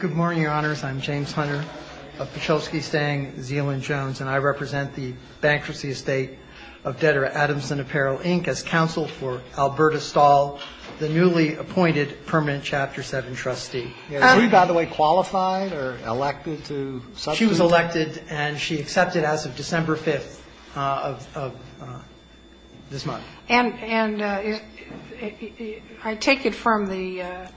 Good morning, Your Honors. I'm James Hunter of Pachovsky, Stang, Zeeland, Jones, and I represent the Bankruptcy Estate of Debtor Adamson Apparel, Inc. as counsel for Alberta Stahl, the newly appointed permanent Chapter 7 trustee. Were you, by the way, qualified or elected to substitute? She was elected, and she accepted as of December 5th of this month. And I take it from the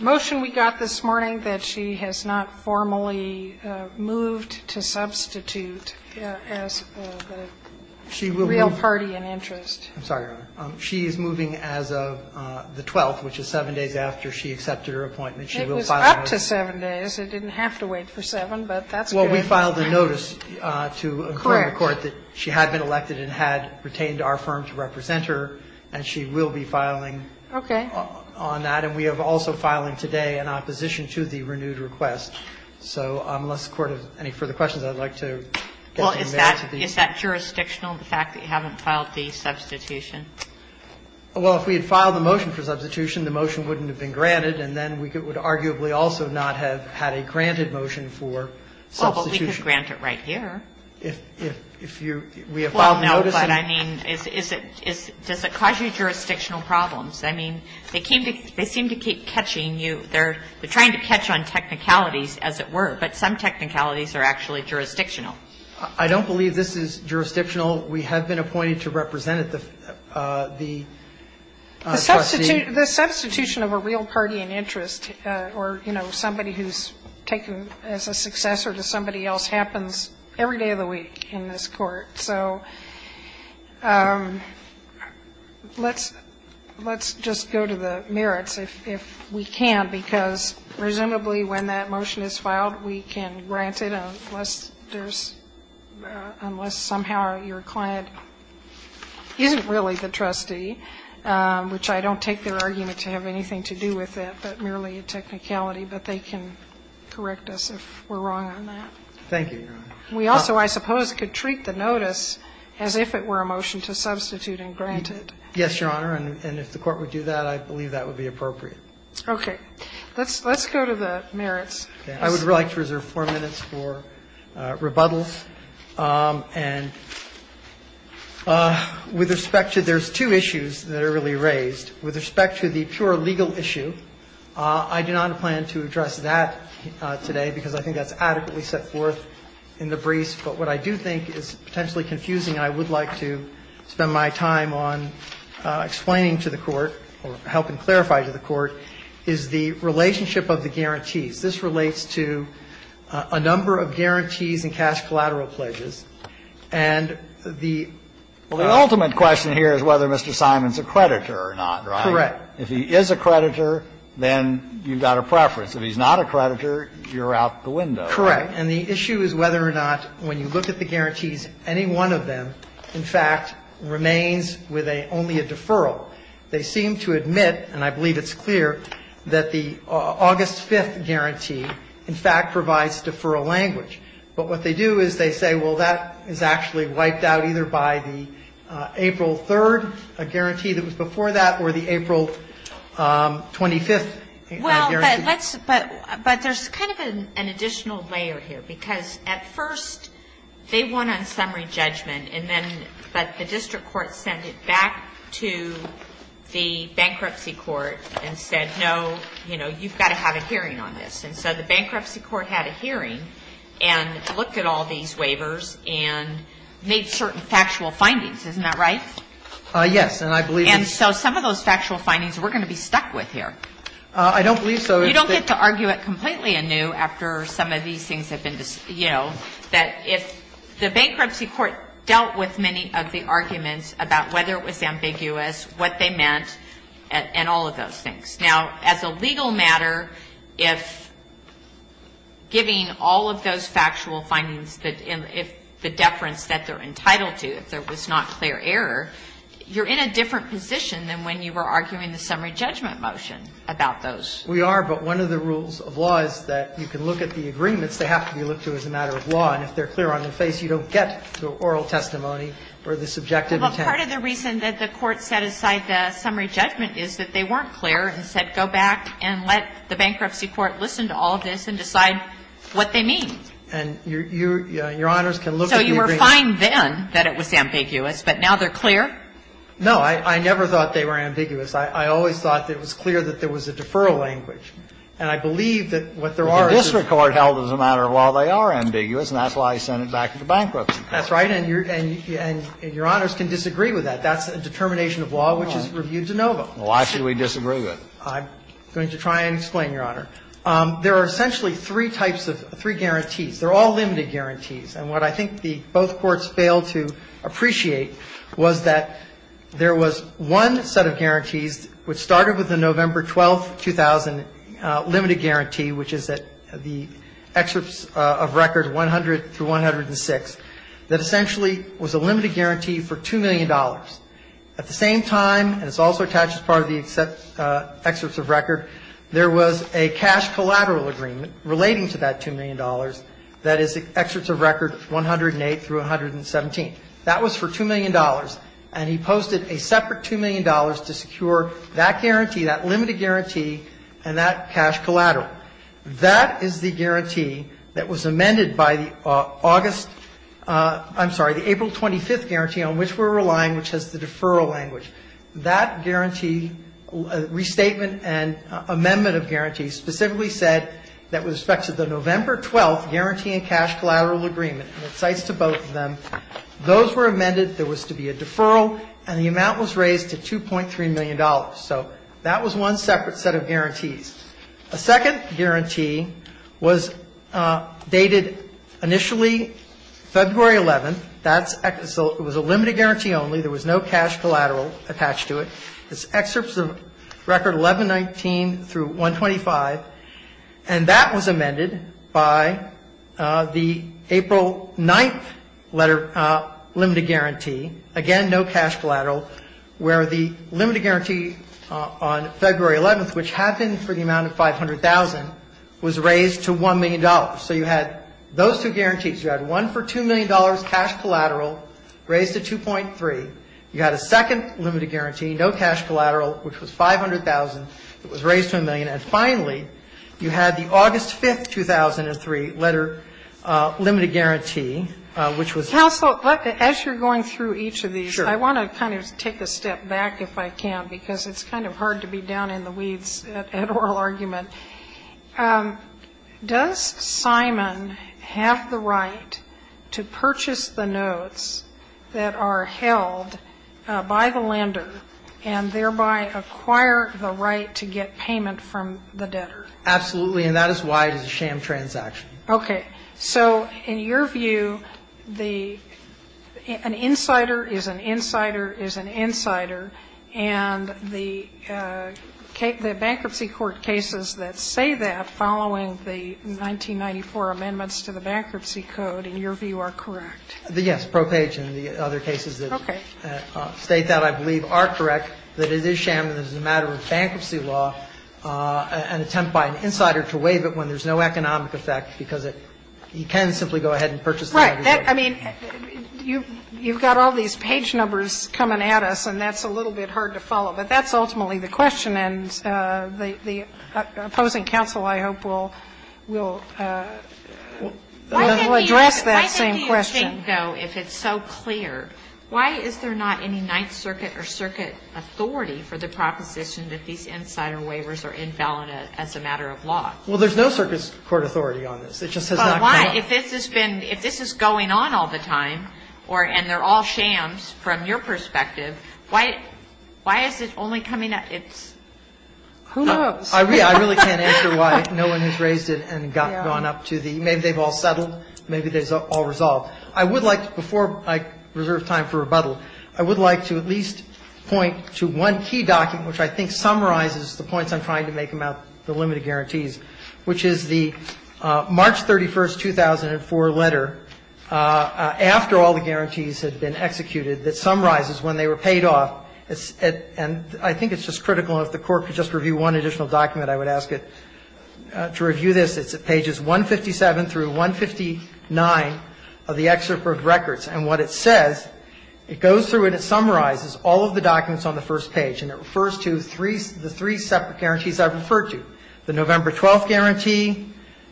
motion we got this morning that she has not formally moved to substitute as the real party in interest. I'm sorry, Your Honor. She is moving as of the 12th, which is 7 days after she accepted her appointment. It was up to 7 days. It didn't have to wait for 7, but that's good. Well, we filed a notice to inform the Court that she had been elected and had retained our firm to represent her, and she will be filing on that. Okay. And we are also filing today an opposition to the renewed request. So unless the Court has any further questions, I'd like to get you in there. Well, is that jurisdictional, the fact that you haven't filed the substitution? Well, if we had filed the motion for substitution, the motion wouldn't have been granted, and then we would arguably also not have had a granted motion for substitution. Well, but we could grant it right here. If you we have filed the notice. Well, no, but I mean, does it cause you jurisdictional problems? I mean, they seem to keep catching you. They're trying to catch on technicalities, as it were, but some technicalities are actually jurisdictional. I don't believe this is jurisdictional. We have been appointed to represent the trustee. The substitution of a real party in interest or, you know, somebody who's taken as a successor to somebody else happens every day of the week in this Court. So let's just go to the merits, if we can, because presumably when that motion is filed, we can grant it unless there's unless somehow your client isn't really the trustee. Which I don't take their argument to have anything to do with it, but merely a technicality. But they can correct us if we're wrong on that. Thank you, Your Honor. We also, I suppose, could treat the notice as if it were a motion to substitute and grant it. Yes, Your Honor, and if the Court would do that, I believe that would be appropriate. Okay. Let's go to the merits. I would like to reserve four minutes for rebuttals. I'm sorry. I'm not sure if I'm going to be able to do that. I'm not sure if I'm going to be able to do that. And with respect to there's two issues that are really raised. With respect to the pure legal issue, I do not plan to address that today because I think that's adequately set forth in the briefs. The other issue that is potentially confusing, and I would like to spend my time on explaining to the Court or helping clarify to the Court, is the relationship of the guarantees. This relates to a number of guarantees in cash collateral pledges. And the ultimate question here is whether Mr. Simon's a creditor or not, right? Correct. If he is a creditor, then you've got a preference. If he's not a creditor, you're out the window, right? And the issue is whether or not when you look at the guarantees, any one of them in fact remains with only a deferral. They seem to admit, and I believe it's clear, that the August 5th guarantee in fact provides deferral language. But what they do is they say, well, that is actually wiped out either by the April 3rd guarantee that was before that or the April 25th guarantee. But there's kind of an additional layer here, because at first they won on summary judgment, and then the district court sent it back to the bankruptcy court and said, no, you know, you've got to have a hearing on this. And so the bankruptcy court had a hearing and looked at all these waivers and made certain factual findings. Isn't that right? Yes. And I believe it's so. And so some of those factual findings we're going to be stuck with here. I don't believe so. You don't get to argue it completely anew after some of these things have been, you know, that if the bankruptcy court dealt with many of the arguments about whether it was ambiguous, what they meant, and all of those things. Now, as a legal matter, if giving all of those factual findings, if the deference that they're entitled to, if there was not clear error, you're in a different position than when you were arguing the summary judgment motion about those. We are. But one of the rules of law is that you can look at the agreements. They have to be looked to as a matter of law. And if they're clear on their face, you don't get to oral testimony or the subjective intent. But part of the reason that the Court set aside the summary judgment is that they weren't clear and said, go back and let the bankruptcy court listen to all of this and decide what they mean. And your Honors can look at the agreements. So you were fine then that it was ambiguous, but now they're clear? No. I never thought they were ambiguous. I always thought that it was clear that there was a deferral language. And I believe that what there are is a law. But the district court held as a matter of law they are ambiguous, and that's why he sent it back to the bankruptcy court. That's right. And your Honors can disagree with that. That's a determination of law which is reviewed de novo. Why should we disagree with it? I'm going to try and explain, Your Honor. There are essentially three types of three guarantees. They're all limited guarantees. And what I think both courts failed to appreciate was that there was one set of guarantees which started with the November 12, 2000, limited guarantee, which is the excerpts of record 100 through 106, that essentially was a limited guarantee for $2 million. At the same time, and it's also attached as part of the excerpts of record, there was a cash collateral agreement relating to that $2 million that is the excerpts of record 108 through 117. That was for $2 million, and he posted a separate $2 million to secure that guarantee, that limited guarantee, and that cash collateral. That is the guarantee that was amended by the August ‑‑ I'm sorry, the April 25th guarantee on which we're relying, which has the deferral language. That guarantee restatement and amendment of guarantee specifically said that with respect to the November 12th guarantee and cash collateral agreement, and it cites to both of them, those were amended. There was to be a deferral, and the amount was raised to $2.3 million. So that was one separate set of guarantees. A second guarantee was dated initially February 11th. That was a limited guarantee only. There was no cash collateral attached to it. It's excerpts of record 1119 through 125, and that was amended by the April 9th letter limited guarantee. Again, no cash collateral, where the limited guarantee on February 11th, which happened for the amount of $500,000, was raised to $1 million. So you had those two guarantees. You had one for $2 million cash collateral raised to 2.3. You had a second limited guarantee, no cash collateral, which was $500,000. It was raised to $1 million. And finally, you had the August 5th, 2003, letter limited guarantee, which was. Sotomayor, as you're going through each of these, I want to kind of take a step back if I can, because it's kind of hard to be down in the weeds at oral argument. Does Simon have the right to purchase the notes that are held by the lender and thereby acquire the right to get payment from the debtor? Absolutely. And that is why it is a sham transaction. Okay. So in your view, an insider is an insider is an insider, and the bankruptcy court cases that say that following the 1994 amendments to the Bankruptcy Code, in your view, are correct? Yes. The ProPage and the other cases that state that, I believe, are correct, that it is sham and is a matter of bankruptcy law, an attempt by an insider to waive it when there's no economic effect, because he can simply go ahead and purchase the notes. Right. I mean, you've got all these page numbers coming at us, and that's a little bit hard to follow, but that's ultimately the question, and the opposing counsel, I hope, will address that same question. I think, though, if it's so clear, why is there not any Ninth Circuit or circuit authority for the proposition that these insider waivers are invalid as a matter of law? Well, there's no circuit court authority on this. It just has not come up. But why? If this has been going on all the time, and they're all shams from your perspective, why is it only coming up? Who knows? I really can't answer why no one has raised it and gone up to the maybe they've all settled, maybe they've all resolved. I would like to, before I reserve time for rebuttal, I would like to at least point to one key document which I think summarizes the points I'm trying to make about the limited guarantees, which is the March 31, 2004 letter, after all the guarantees had been executed, that summarizes when they were paid off, and I think it's just critical, and if the Court could just review one additional document, I would ask it to review this. It's at pages 157 through 159 of the excerpt of records, and what it says, it goes through and it summarizes all of the documents on the first page, and it refers to the three separate guarantees I've referred to, the November 12 guarantee,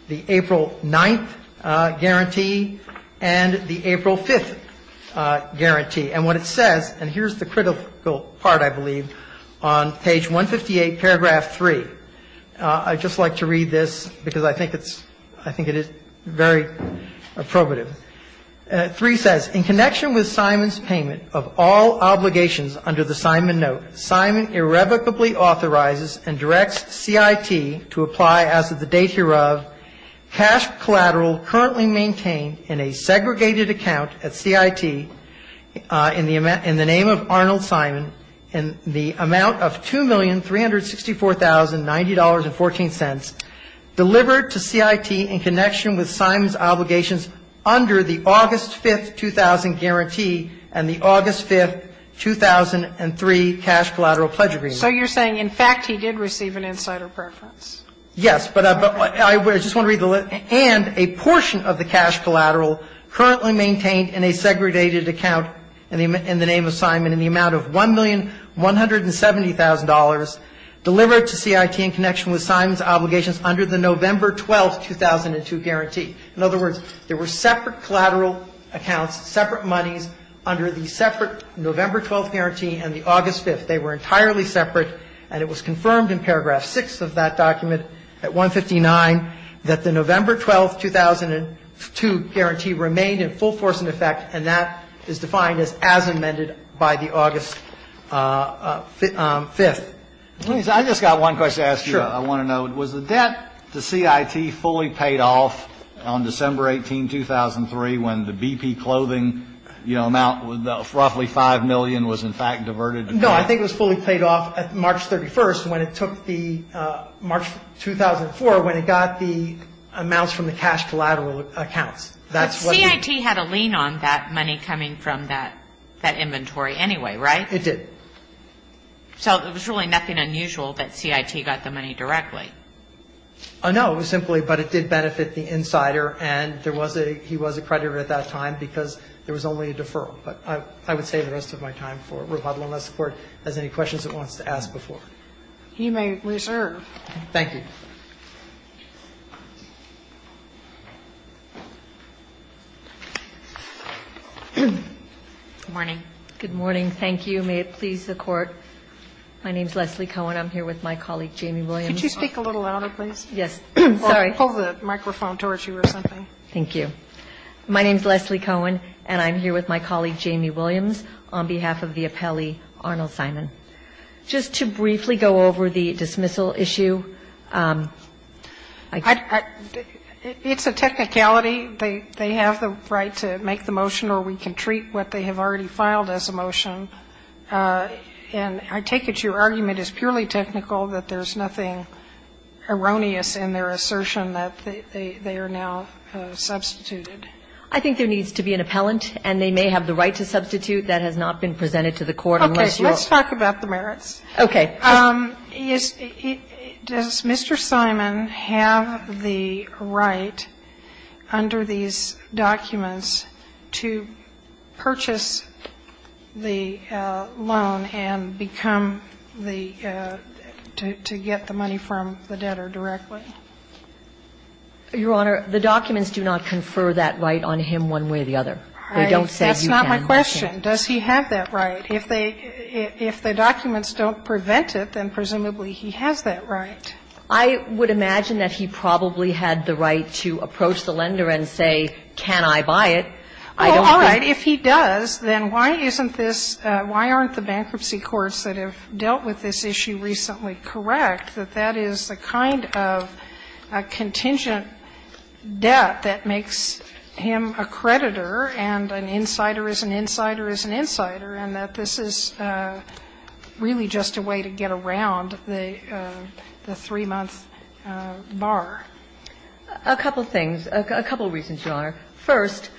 the April 9 guarantee, and the April 5 guarantee. And what it says, and here's the critical part, I believe, on page 158, paragraph 3. I'd just like to read this because I think it's, I think it is very probative. 3 says, In connection with Simon's payment of all obligations under the Simon note, Simon irrevocably authorizes and directs CIT to apply as of the date hereof cash collateral currently maintained in a segregated account at CIT in the name of Arnold Simon in the amount of $2,364,090.14 delivered to CIT in connection with Simon's obligations under the August 5, 2000 guarantee and the August 5, 2003 cash collateral pledge agreement. So you're saying, in fact, he did receive an insider preference? Yes, but I just want to read the list. And a portion of the cash collateral currently maintained in a segregated account in the name of Simon in the amount of $1,170,000 delivered to CIT in connection with Simon's obligations under the November 12, 2002 guarantee. In other words, there were separate collateral accounts, separate monies under the separate November 12 guarantee and the August 5. They were entirely separate, and it was confirmed in paragraph 6 of that document at 159 that the November 12, 2002 guarantee remained in full force in effect, and that is defined as amended by the August 5. Let me say, I just got one question to ask you. Sure. I want to know, was the debt to CIT fully paid off on December 18, 2003, when the BP clothing, you know, amount, roughly $5 million was, in fact, diverted? No, I think it was fully paid off March 31st when it took the, March 2004, when it got the amounts from the cash collateral accounts. Well, CIT had a lien on that money coming from that inventory anyway, right? It did. So there was really nothing unusual that CIT got the money directly. No, it was simply, but it did benefit the insider, and there was a, he was a creditor at that time because there was only a deferral. But I would save the rest of my time for rebuttal unless the Court has any questions it wants to ask before. He may reserve. Thank you. Good morning. Good morning. Thank you. May it please the Court. My name is Leslie Cohen. I'm here with my colleague, Jamie Williams. Could you speak a little louder, please? Yes. Sorry. Hold the microphone towards you or something. Thank you. My name is Leslie Cohen, and I'm here with my colleague, Jamie Williams, on behalf of the appellee, Arnold Simon. Just to briefly go over the dismissal issue. It's a technicality. They have the right to make the motion, or we can treat what they have already filed as a motion. And I take it your argument is purely technical, that there's nothing erroneous in their assertion that they are now substituted. I think there needs to be an appellant, and they may have the right to substitute. That has not been presented to the Court unless you are. Okay. Let's talk about the merits. Okay. Does Mr. Simon have the right under these documents to purchase the loan and become the to get the money from the debtor directly? Your Honor, the documents do not confer that right on him one way or the other. They don't say you can. That's not my question. Does he have that right? If they, if the documents don't prevent it, then presumably he has that right. I would imagine that he probably had the right to approach the lender and say, can I buy it? I don't think. Oh, all right. If he does, then why isn't this, why aren't the bankruptcy courts that have dealt with this issue recently correct, that that is the kind of contingent debt that makes him a creditor and an insider is an insider is an insider, and that this is really just a way to get around the three-month bar? A couple of things. A couple of reasons, Your Honor. First,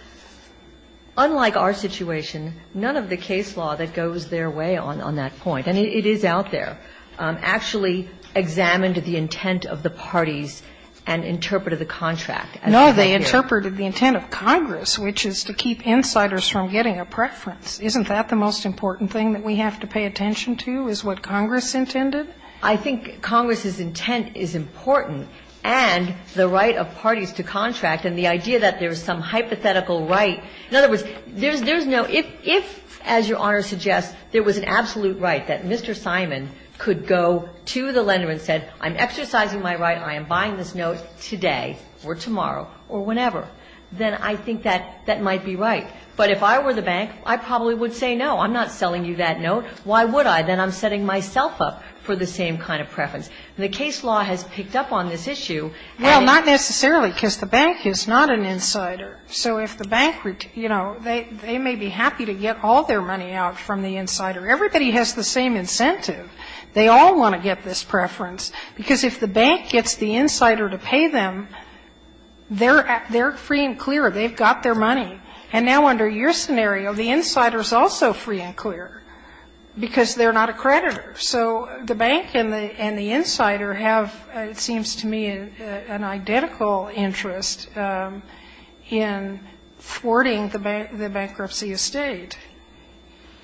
unlike our situation, none of the case law that goes their way on that point, and it is out there, actually examined the intent of the parties and interpreted the contract. No, they interpreted the intent of Congress, which is to keep insiders from getting a preference. Isn't that the most important thing that we have to pay attention to, is what Congress intended? I think Congress's intent is important, and the right of parties to contract and the idea that there is some hypothetical right. In other words, there's no – if, as Your Honor suggests, there was an absolute right that Mr. Simon could go to the lender and say, I'm exercising my right, I am buying this note today or tomorrow or whenever, then I think that that might be right. But if I were the bank, I probably would say, no, I'm not selling you that note. Why would I? Then I'm setting myself up for the same kind of preference. The case law has picked up on this issue. And it's – Well, not necessarily, because the bank is not an insider. So if the bank, you know, they may be happy to get all their money out from the insider. Everybody has the same incentive. They all want to get this preference, because if the bank gets the insider to pay them, they're free and clear. They've got their money. And now under your scenario, the insider is also free and clear, because they're not a creditor. So the bank and the insider have, it seems to me, an identical interest in thwarting the bankruptcy estate.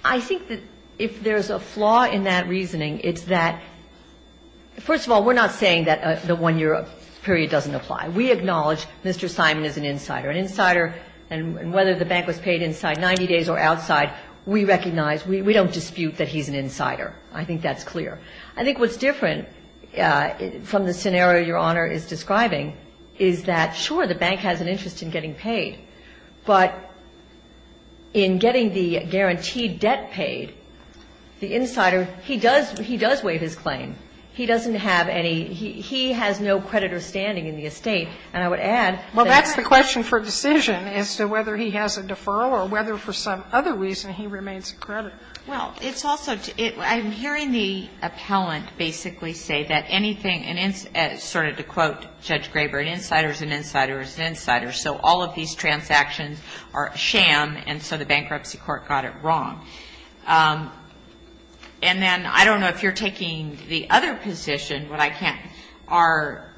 I think that if there's a flaw in that reasoning, it's that, first of all, we're not saying that the one-year period doesn't apply. We acknowledge Mr. Simon is an insider. An insider – and whether the bank was paid inside 90 days or outside, we recognize – we don't dispute that he's an insider. I think that's clear. I think what's different from the scenario Your Honor is describing is that, sure, the bank has an interest in getting paid. But in getting the guaranteed debt paid, the insider, he does – he does waive his claim. He doesn't have any – he has no creditor standing in the estate. And I would add that the bank – Well, that's the question for decision as to whether he has a deferral or whether for some other reason he remains a creditor. Well, it's also – I'm hearing the appellant basically say that anything to quote Judge Graber, an insider is an insider is an insider. So all of these transactions are a sham, and so the bankruptcy court got it wrong. And then I don't know if you're taking the other position, but I can't – are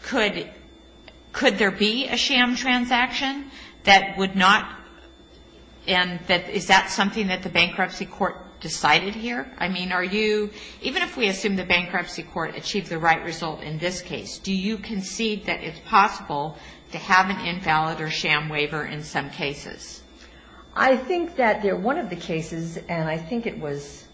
– could there be a sham transaction that would not – and that – is that something that the bankruptcy court decided here? I mean, are you – even if we assume the bankruptcy court achieved the right result in this case, do you concede that it's possible to have an invalid or sham waiver in some cases? I think that there – one of the cases, and I think it was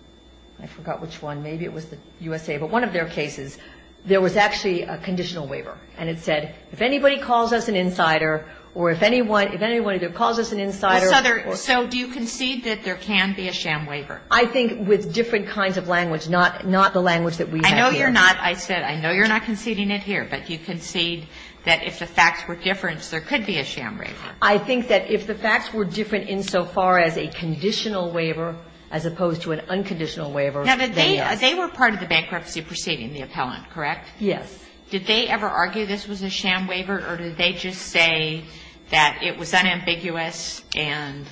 – I forgot which one. Maybe it was the USA. But one of their cases, there was actually a conditional waiver. And it said, if anybody calls us an insider or if anyone – if anyone either calls us an insider or – So do you concede that there can be a sham waiver? I think with different kinds of language, not the language that we have here. I know you're not – I said I know you're not conceding it here, but you concede that if the facts were different, there could be a sham waiver. I think that if the facts were different insofar as a conditional waiver as opposed to an unconditional waiver, they are. Now, they were part of the bankruptcy proceeding, the appellant, correct? Yes. Did they ever argue this was a sham waiver, or did they just say that it was unambiguous and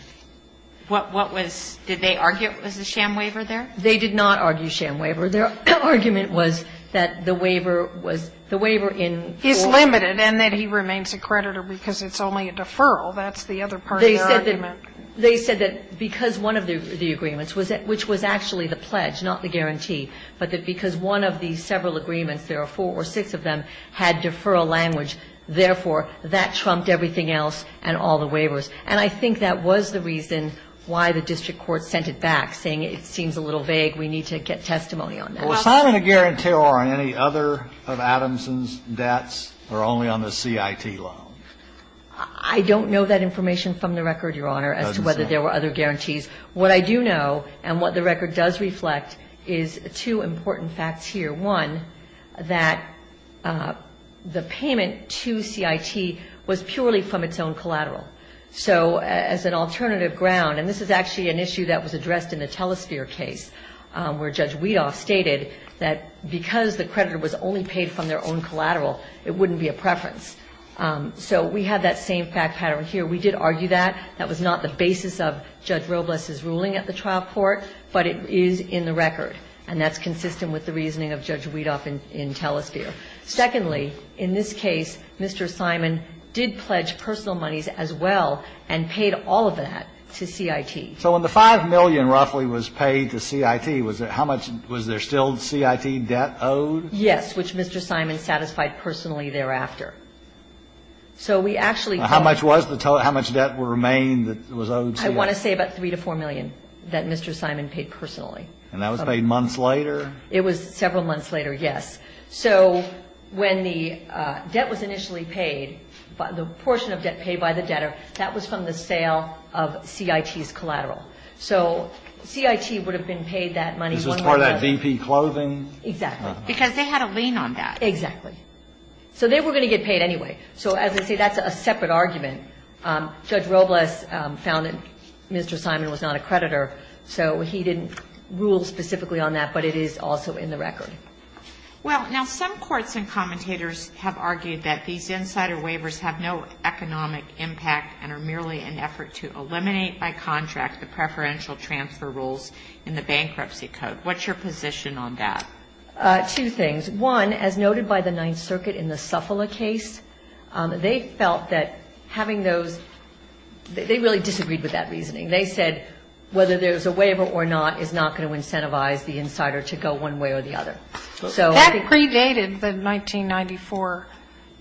what was – did they argue it was a sham waiver there? They did not argue sham waiver. Their argument was that the waiver was – the waiver in full. He's limited and that he remains a creditor because it's only a deferral. That's the other part of their argument. They said that because one of the agreements, which was actually the pledge, not the guarantee, but that because one of the several agreements, there are four or six of them, had deferral language, therefore, that trumped everything else and all the waivers. And I think that was the reason why the district court sent it back, saying it seems a little vague, we need to get testimony on that. Was Simon a guarantor on any other of Adamson's debts or only on the CIT loan? I don't know that information from the record, Your Honor, as to whether there were other guarantees. What I do know, and what the record does reflect, is two important facts here. One, that the payment to CIT was purely from its own collateral. So as an alternative ground, and this is actually an issue that was addressed in the Telesphere case, where Judge Weedoff stated that because the creditor was only paid from their own collateral, it wouldn't be a preference. So we have that same fact pattern here. We did argue that. That was not the basis of Judge Robles' ruling at the trial court, but it is in the record. And that's consistent with the reasoning of Judge Weedoff in Telesphere. Secondly, in this case, Mr. Simon did pledge personal monies as well and paid all of that to CIT. So when the 5 million roughly was paid to CIT, was there how much, was there still CIT debt owed? Yes, which Mr. Simon satisfied personally thereafter. So we actually paid. How much was the total? How much debt remained that was owed to CIT? I want to say about 3 to 4 million that Mr. Simon paid personally. And that was paid months later? It was several months later, yes. So when the debt was initially paid, the portion of debt paid by the debtor, that was from the sale of CIT's collateral. So CIT would have been paid that money. This was part of that BP clothing? Exactly. Because they had a lien on that. Exactly. So they were going to get paid anyway. So as I say, that's a separate argument. Judge Robles found that Mr. Simon was not a creditor. So he didn't rule specifically on that. But it is also in the record. Well, now some courts and commentators have argued that these insider waivers have no economic impact and are merely an effort to eliminate by contract the preferential transfer rules in the Bankruptcy Code. What's your position on that? Two things. One, as noted by the Ninth Circuit in the Suffolk case, they felt that having those, they really disagreed with that reasoning. They said whether there's a waiver or not is not going to incentivize the insider to go one way or the other. That predated the 1994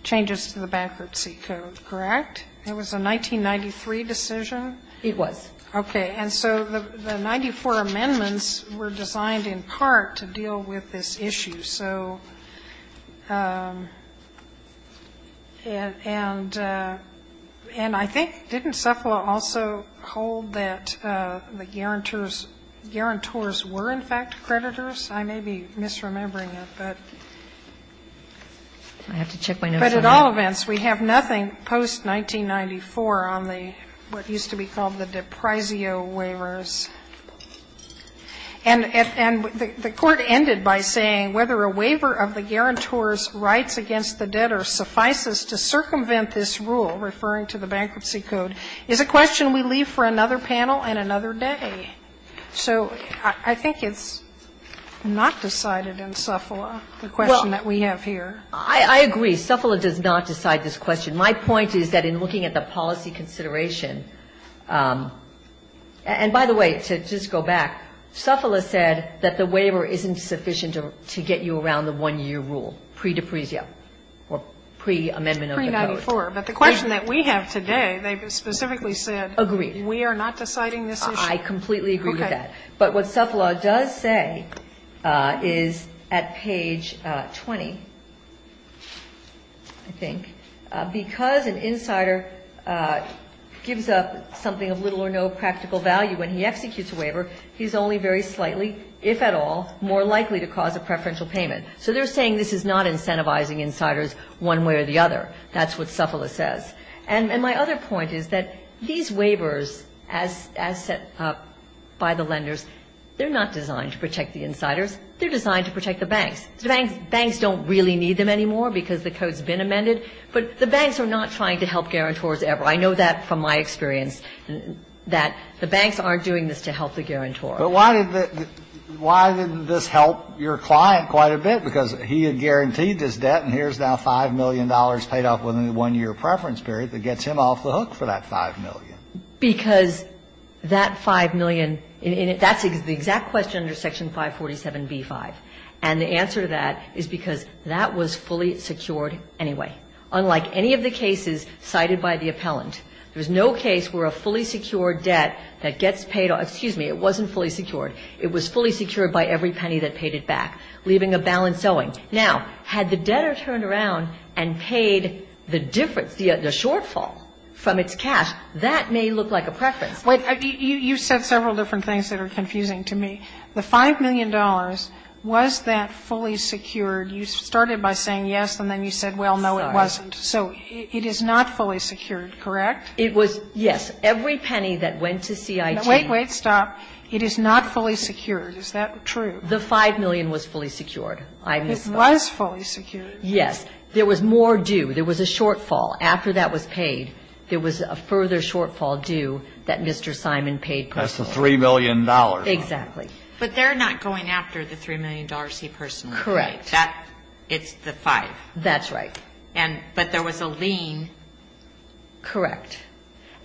changes to the Bankruptcy Code, correct? It was a 1993 decision? It was. Okay. And so the 94 amendments were designed in part to deal with this issue. So, and I think, didn't Suffolk also hold that the guarantors were in fact creditors? I may be misremembering it, but. I have to check my notes. But at all events, we have nothing post-1994 on the, what used to be called the Deprisio waivers. And the Court ended by saying, whether a waiver of the guarantor's rights against the debtor suffices to circumvent this rule, referring to the Bankruptcy Code, is a question we leave for another panel and another day. So I think it's not decided in Suffolk, the question that we have here. Well, I agree. Suffolk does not decide this question. My point is that in looking at the policy consideration, and by the way, to just go back, Suffolk said that the waiver isn't sufficient to get you around the one-year rule, pre-Deprisio, or pre-amendment of the Code. Pre-94. But the question that we have today, they specifically said. Agreed. We are not deciding this issue? I completely agree with that. Okay. But what Suffolk does say is at page 20, I think, because an insider gives up something of little or no practical value when he executes a waiver, he's only very slightly, if at all, more likely to cause a preferential payment. So they're saying this is not incentivizing insiders one way or the other. That's what Suffolk says. And my other point is that these waivers, as set up by the lenders, they're not designed to protect the insiders. They're designed to protect the banks. The banks don't really need them anymore because the Code's been amended, but the banks are not trying to help guarantors ever. I know that from my experience, that the banks aren't doing this to help the guarantor. But why did this help your client quite a bit? Because he had guaranteed his debt, and here's now $5 million paid off with a one-year preference period that gets him off the hook for that $5 million. Because that $5 million, that's the exact question under Section 547b-5. And the answer to that is because that was fully secured anyway, unlike any of the cases cited by the appellant. There's no case where a fully secured debt that gets paid off – excuse me, it wasn't fully secured. It was fully secured by every penny that paid it back, leaving a balance owing. Now, had the debtor turned around and paid the difference, the shortfall, from its cash, that may look like a preference. But you said several different things that are confusing to me. The $5 million, was that fully secured? You started by saying yes, and then you said, well, no, it wasn't. So it is not fully secured, correct? It was, yes. Every penny that went to CIT. Wait, wait, stop. It is not fully secured. Is that true? The $5 million was fully secured. It was fully secured. Yes. There was more due. There was a shortfall. After that was paid, there was a further shortfall due that Mr. Simon paid personally. That's the $3 million. Exactly. But they're not going after the $3 million he personally paid. Correct. It's the 5. That's right. But there was a lien. Correct.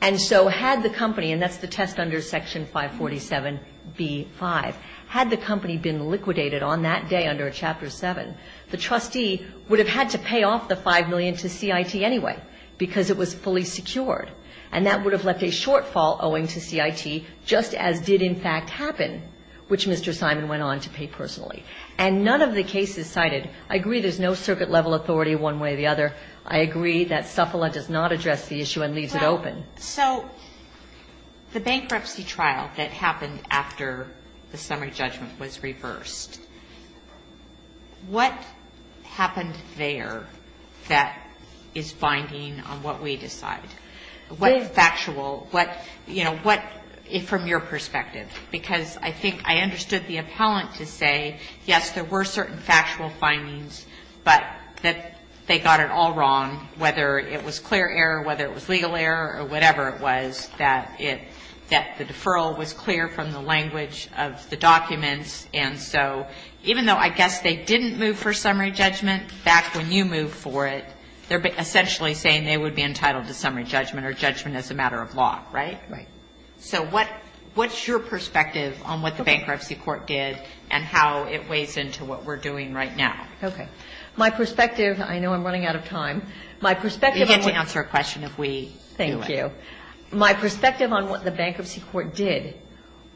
And so had the company, and that's the test under Section 547b-5, had the company been liquidated on that day under Chapter 7, the trustee would have had to pay off the $5 million to CIT anyway, because it was fully secured. And that would have left a shortfall owing to CIT, just as did in fact happen, which Mr. Simon went on to pay personally. And none of the cases cited, I agree there's no circuit level authority one way or the other. I agree that SUFLA does not address the issue and leaves it open. So the bankruptcy trial that happened after the summary judgment was reversed, what happened there that is binding on what we decide? What factual, what, you know, what, from your perspective? Because I think I understood the appellant to say, yes, there were certain factual findings, but that they got it all wrong, whether it was clear error, whether it was legal error or whatever it was, that it, that the deferral was clear from the language of the documents. And so even though I guess they didn't move for summary judgment, back when you moved for it, they're essentially saying they would be entitled to summary judgment or judgment as a matter of law, right? Right. So what's your perspective on what the bankruptcy court did and how it weighs into what we're doing right now? Okay. My perspective, I know I'm running out of time. You get to answer a question if we do it. Thank you. My perspective on what the bankruptcy court did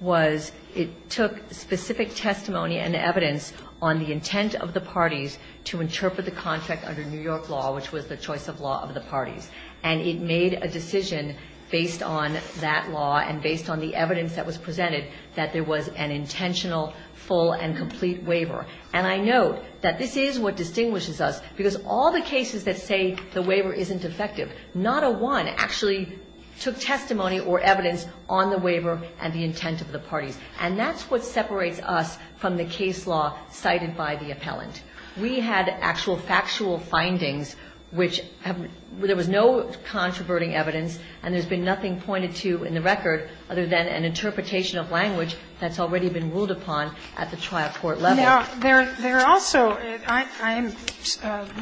was it took specific testimony and evidence on the intent of the parties to interpret the contract under New York law, which was the choice of law of the parties. And it made a decision based on that law and based on the evidence that was presented that there was an intentional, full and complete waiver. And I note that this is what distinguishes us, because all the cases that say the waiver isn't effective, not a one actually took testimony or evidence on the waiver and the intent of the parties. And that's what separates us from the case law cited by the appellant. We had actual factual findings which have, there was no controverting evidence and there's been nothing pointed to in the record other than an interpretation of language that's already been ruled upon at the trial court level. Sotomayor, there are also, I'm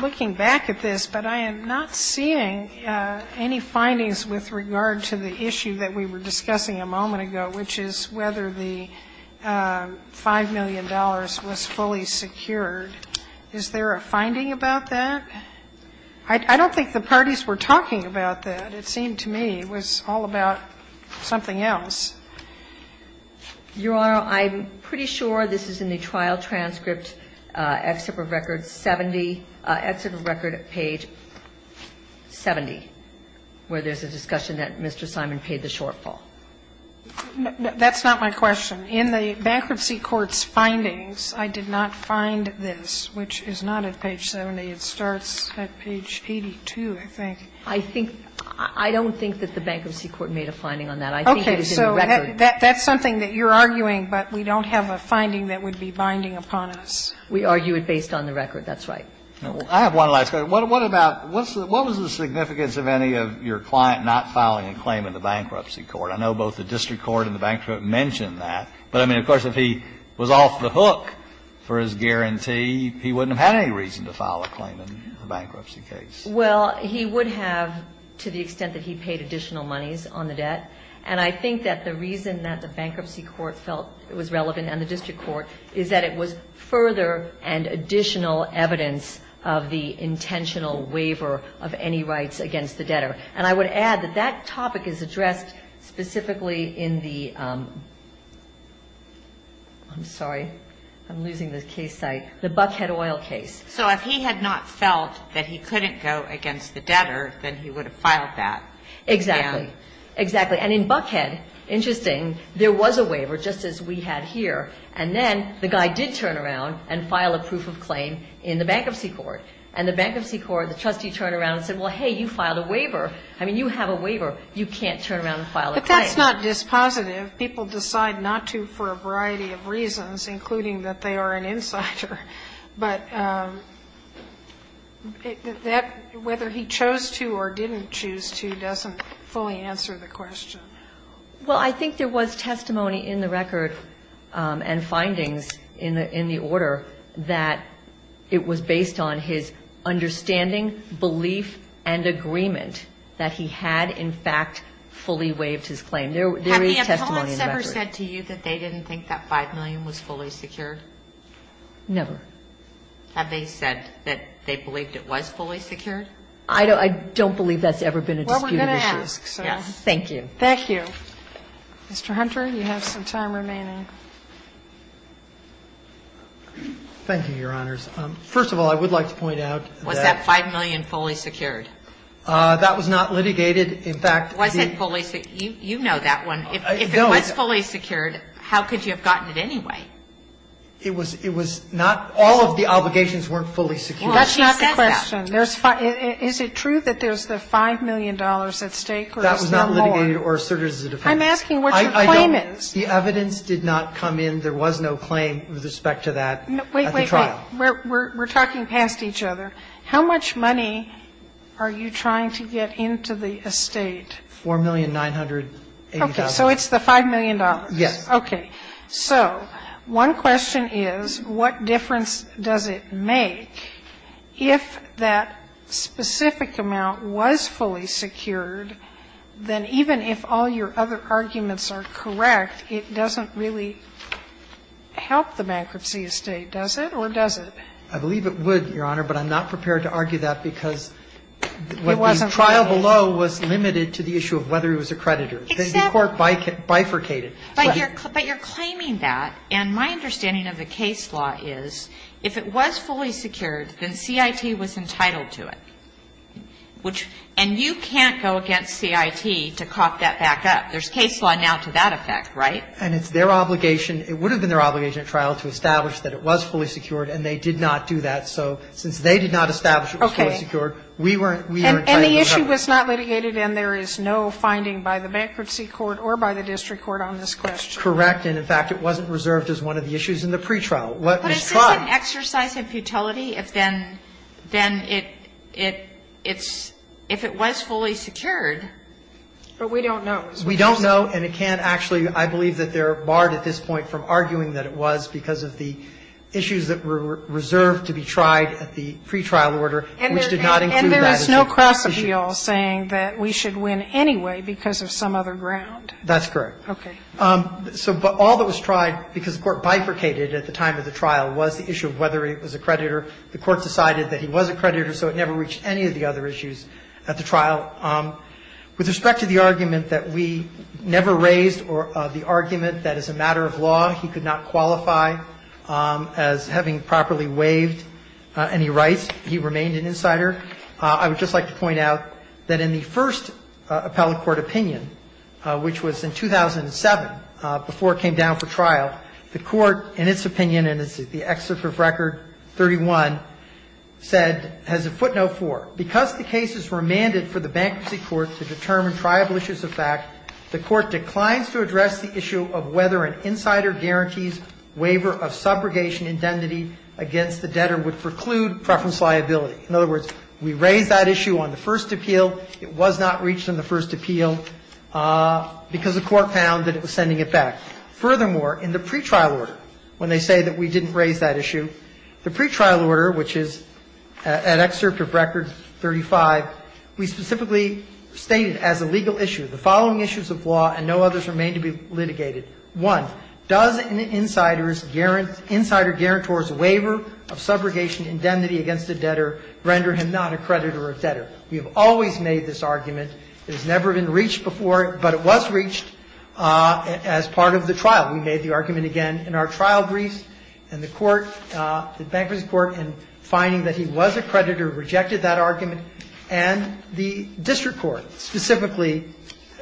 looking back at this, but I am not seeing any findings with regard to the issue that we were discussing a moment ago, which is whether the $5 million was fully secured. Is there a finding about that? I don't think the parties were talking about that. It seemed to me it was all about something else. Your Honor, I'm pretty sure this is in the trial transcript, excerpt of record 70, excerpt of record at page 70, where there's a discussion that Mr. Simon paid the shortfall. That's not my question. In the Bankruptcy Court's findings, I did not find this, which is not at page 70. It starts at page 82, I think. I think, I don't think that the Bankruptcy Court made a finding on that. I think it's in the record. Sotomayor, that's something that you're arguing, but we don't have a finding that would be binding upon us. We argue it based on the record, that's right. I have one last question. What about, what was the significance of any of your client not filing a claim in the Bankruptcy Court? I know both the district court and the Bankruptcy Court mentioned that, but, I mean, of course, if he was off the hook for his guarantee, he wouldn't have had any reason to file a claim in the Bankruptcy case. Well, he would have to the extent that he paid additional monies on the debt. And I think that the reason that the Bankruptcy Court felt it was relevant, and the district court, is that it was further and additional evidence of the intentional waiver of any rights against the debtor. And I would add that that topic is addressed specifically in the, I'm sorry, I'm losing the case site, the Buckhead Oil case. So if he had not felt that he couldn't go against the debtor, then he would have filed that. Exactly. Exactly. And in Buckhead, interesting, there was a waiver, just as we had here. And then the guy did turn around and file a proof of claim in the Bankruptcy Court. And the Bankruptcy Court, the trustee turned around and said, well, hey, you filed a waiver. I mean, you have a waiver. You can't turn around and file a claim. But that's not dispositive. People decide not to for a variety of reasons, including that they are an insider. But whether he chose to or didn't choose to doesn't fully answer the question. Well, I think there was testimony in the record and findings in the order that it was based on his understanding, belief, and agreement that he had, in fact, fully waived his claim. There is testimony in the record. Have the appellants ever said to you that they didn't think that $5 million was fully secured? Never. Have they said that they believed it was fully secured? I don't believe that's ever been a disputed issue. Well, we're going to ask, so. Yes. Thank you. Thank you. Mr. Hunter, you have some time remaining. Thank you, Your Honors. First of all, I would like to point out that. Was that $5 million fully secured? That was not litigated. In fact, the. Was it fully secured? You know that one. If it was fully secured, how could you have gotten it anyway? It was, it was not. All of the obligations weren't fully secured. That's not the question. There's five. Is it true that there's the $5 million at stake? That was not litigated or asserted as a defense. I'm asking what your claim is. The evidence did not come in. There was no claim with respect to that. Wait, wait, we're talking past each other. How much money are you trying to get into the estate? $4,980,000. So it's the $5 million. Yes. Okay. So one question is, what difference does it make if that specific amount was fully secured, then even if all your other arguments are correct, it doesn't really help the bankruptcy estate, does it, or does it? I believe it would, Your Honor, but I'm not prepared to argue that because the trial below was limited to the issue of whether it was accredited. The court bifurcated. But you're claiming that, and my understanding of the case law is if it was fully secured, then CIT was entitled to it, and you can't go against CIT to cop that back up. There's case law now to that effect, right? And it's their obligation. It would have been their obligation at trial to establish that it was fully secured, and they did not do that. So since they did not establish it was fully secured, we were entitled to cover it. And the issue was not litigated, and there is no finding by the bankruptcy court or by the district court on this question. Correct. And, in fact, it wasn't reserved as one of the issues in the pretrial. But it's an exercise in futility if then it's – if it was fully secured. But we don't know. We don't know, and it can't actually – I believe that they're barred at this point from arguing that it was because of the issues that were reserved to be tried at the pretrial order, which did not include that issue. And there is no cross appeal saying that we should win anyway because of some other ground. That's correct. Okay. So all that was tried, because the Court bifurcated at the time of the trial, was the issue of whether it was a creditor. The Court decided that he was a creditor, so it never reached any of the other issues at the trial. With respect to the argument that we never raised or the argument that as a matter of law he could not qualify as having properly waived any rights, he remained an insider. I would just like to point out that in the first appellate court opinion, which was in 2007, before it came down for trial, the Court, in its opinion, and it's the excerpt of Record 31, said – has a footnote for – because the case is remanded for the bankruptcy court to determine triable issues of fact, the Court declines to address the issue of whether an insider guarantees waiver of subrogation indemnity against the debtor would preclude preference liability. In other words, we raised that issue on the first appeal. It was not reached in the first appeal because the Court found that it was sending it back. Furthermore, in the pretrial order, when they say that we didn't raise that issue, the pretrial order, which is an excerpt of Record 35, we specifically stated as a legal issue the following issues of law and no others remain to be litigated. One, does an insider's – insider guarantors waiver of subrogation indemnity against the debtor render him not a creditor of debtor? We have always made this argument. It has never been reached before, but it was reached as part of the trial. We made the argument again in our trial briefs, and the Court – the bankruptcy court, in finding that he was a creditor, rejected that argument, and the district court specifically,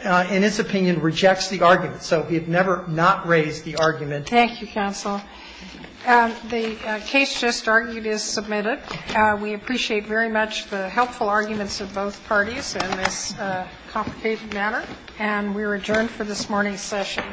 in its opinion, rejects the argument. So we have never not raised the argument. Thank you, counsel. The case just argued is submitted. We appreciate very much the helpful arguments of both parties in this complicated manner, and we are adjourned for this morning's session.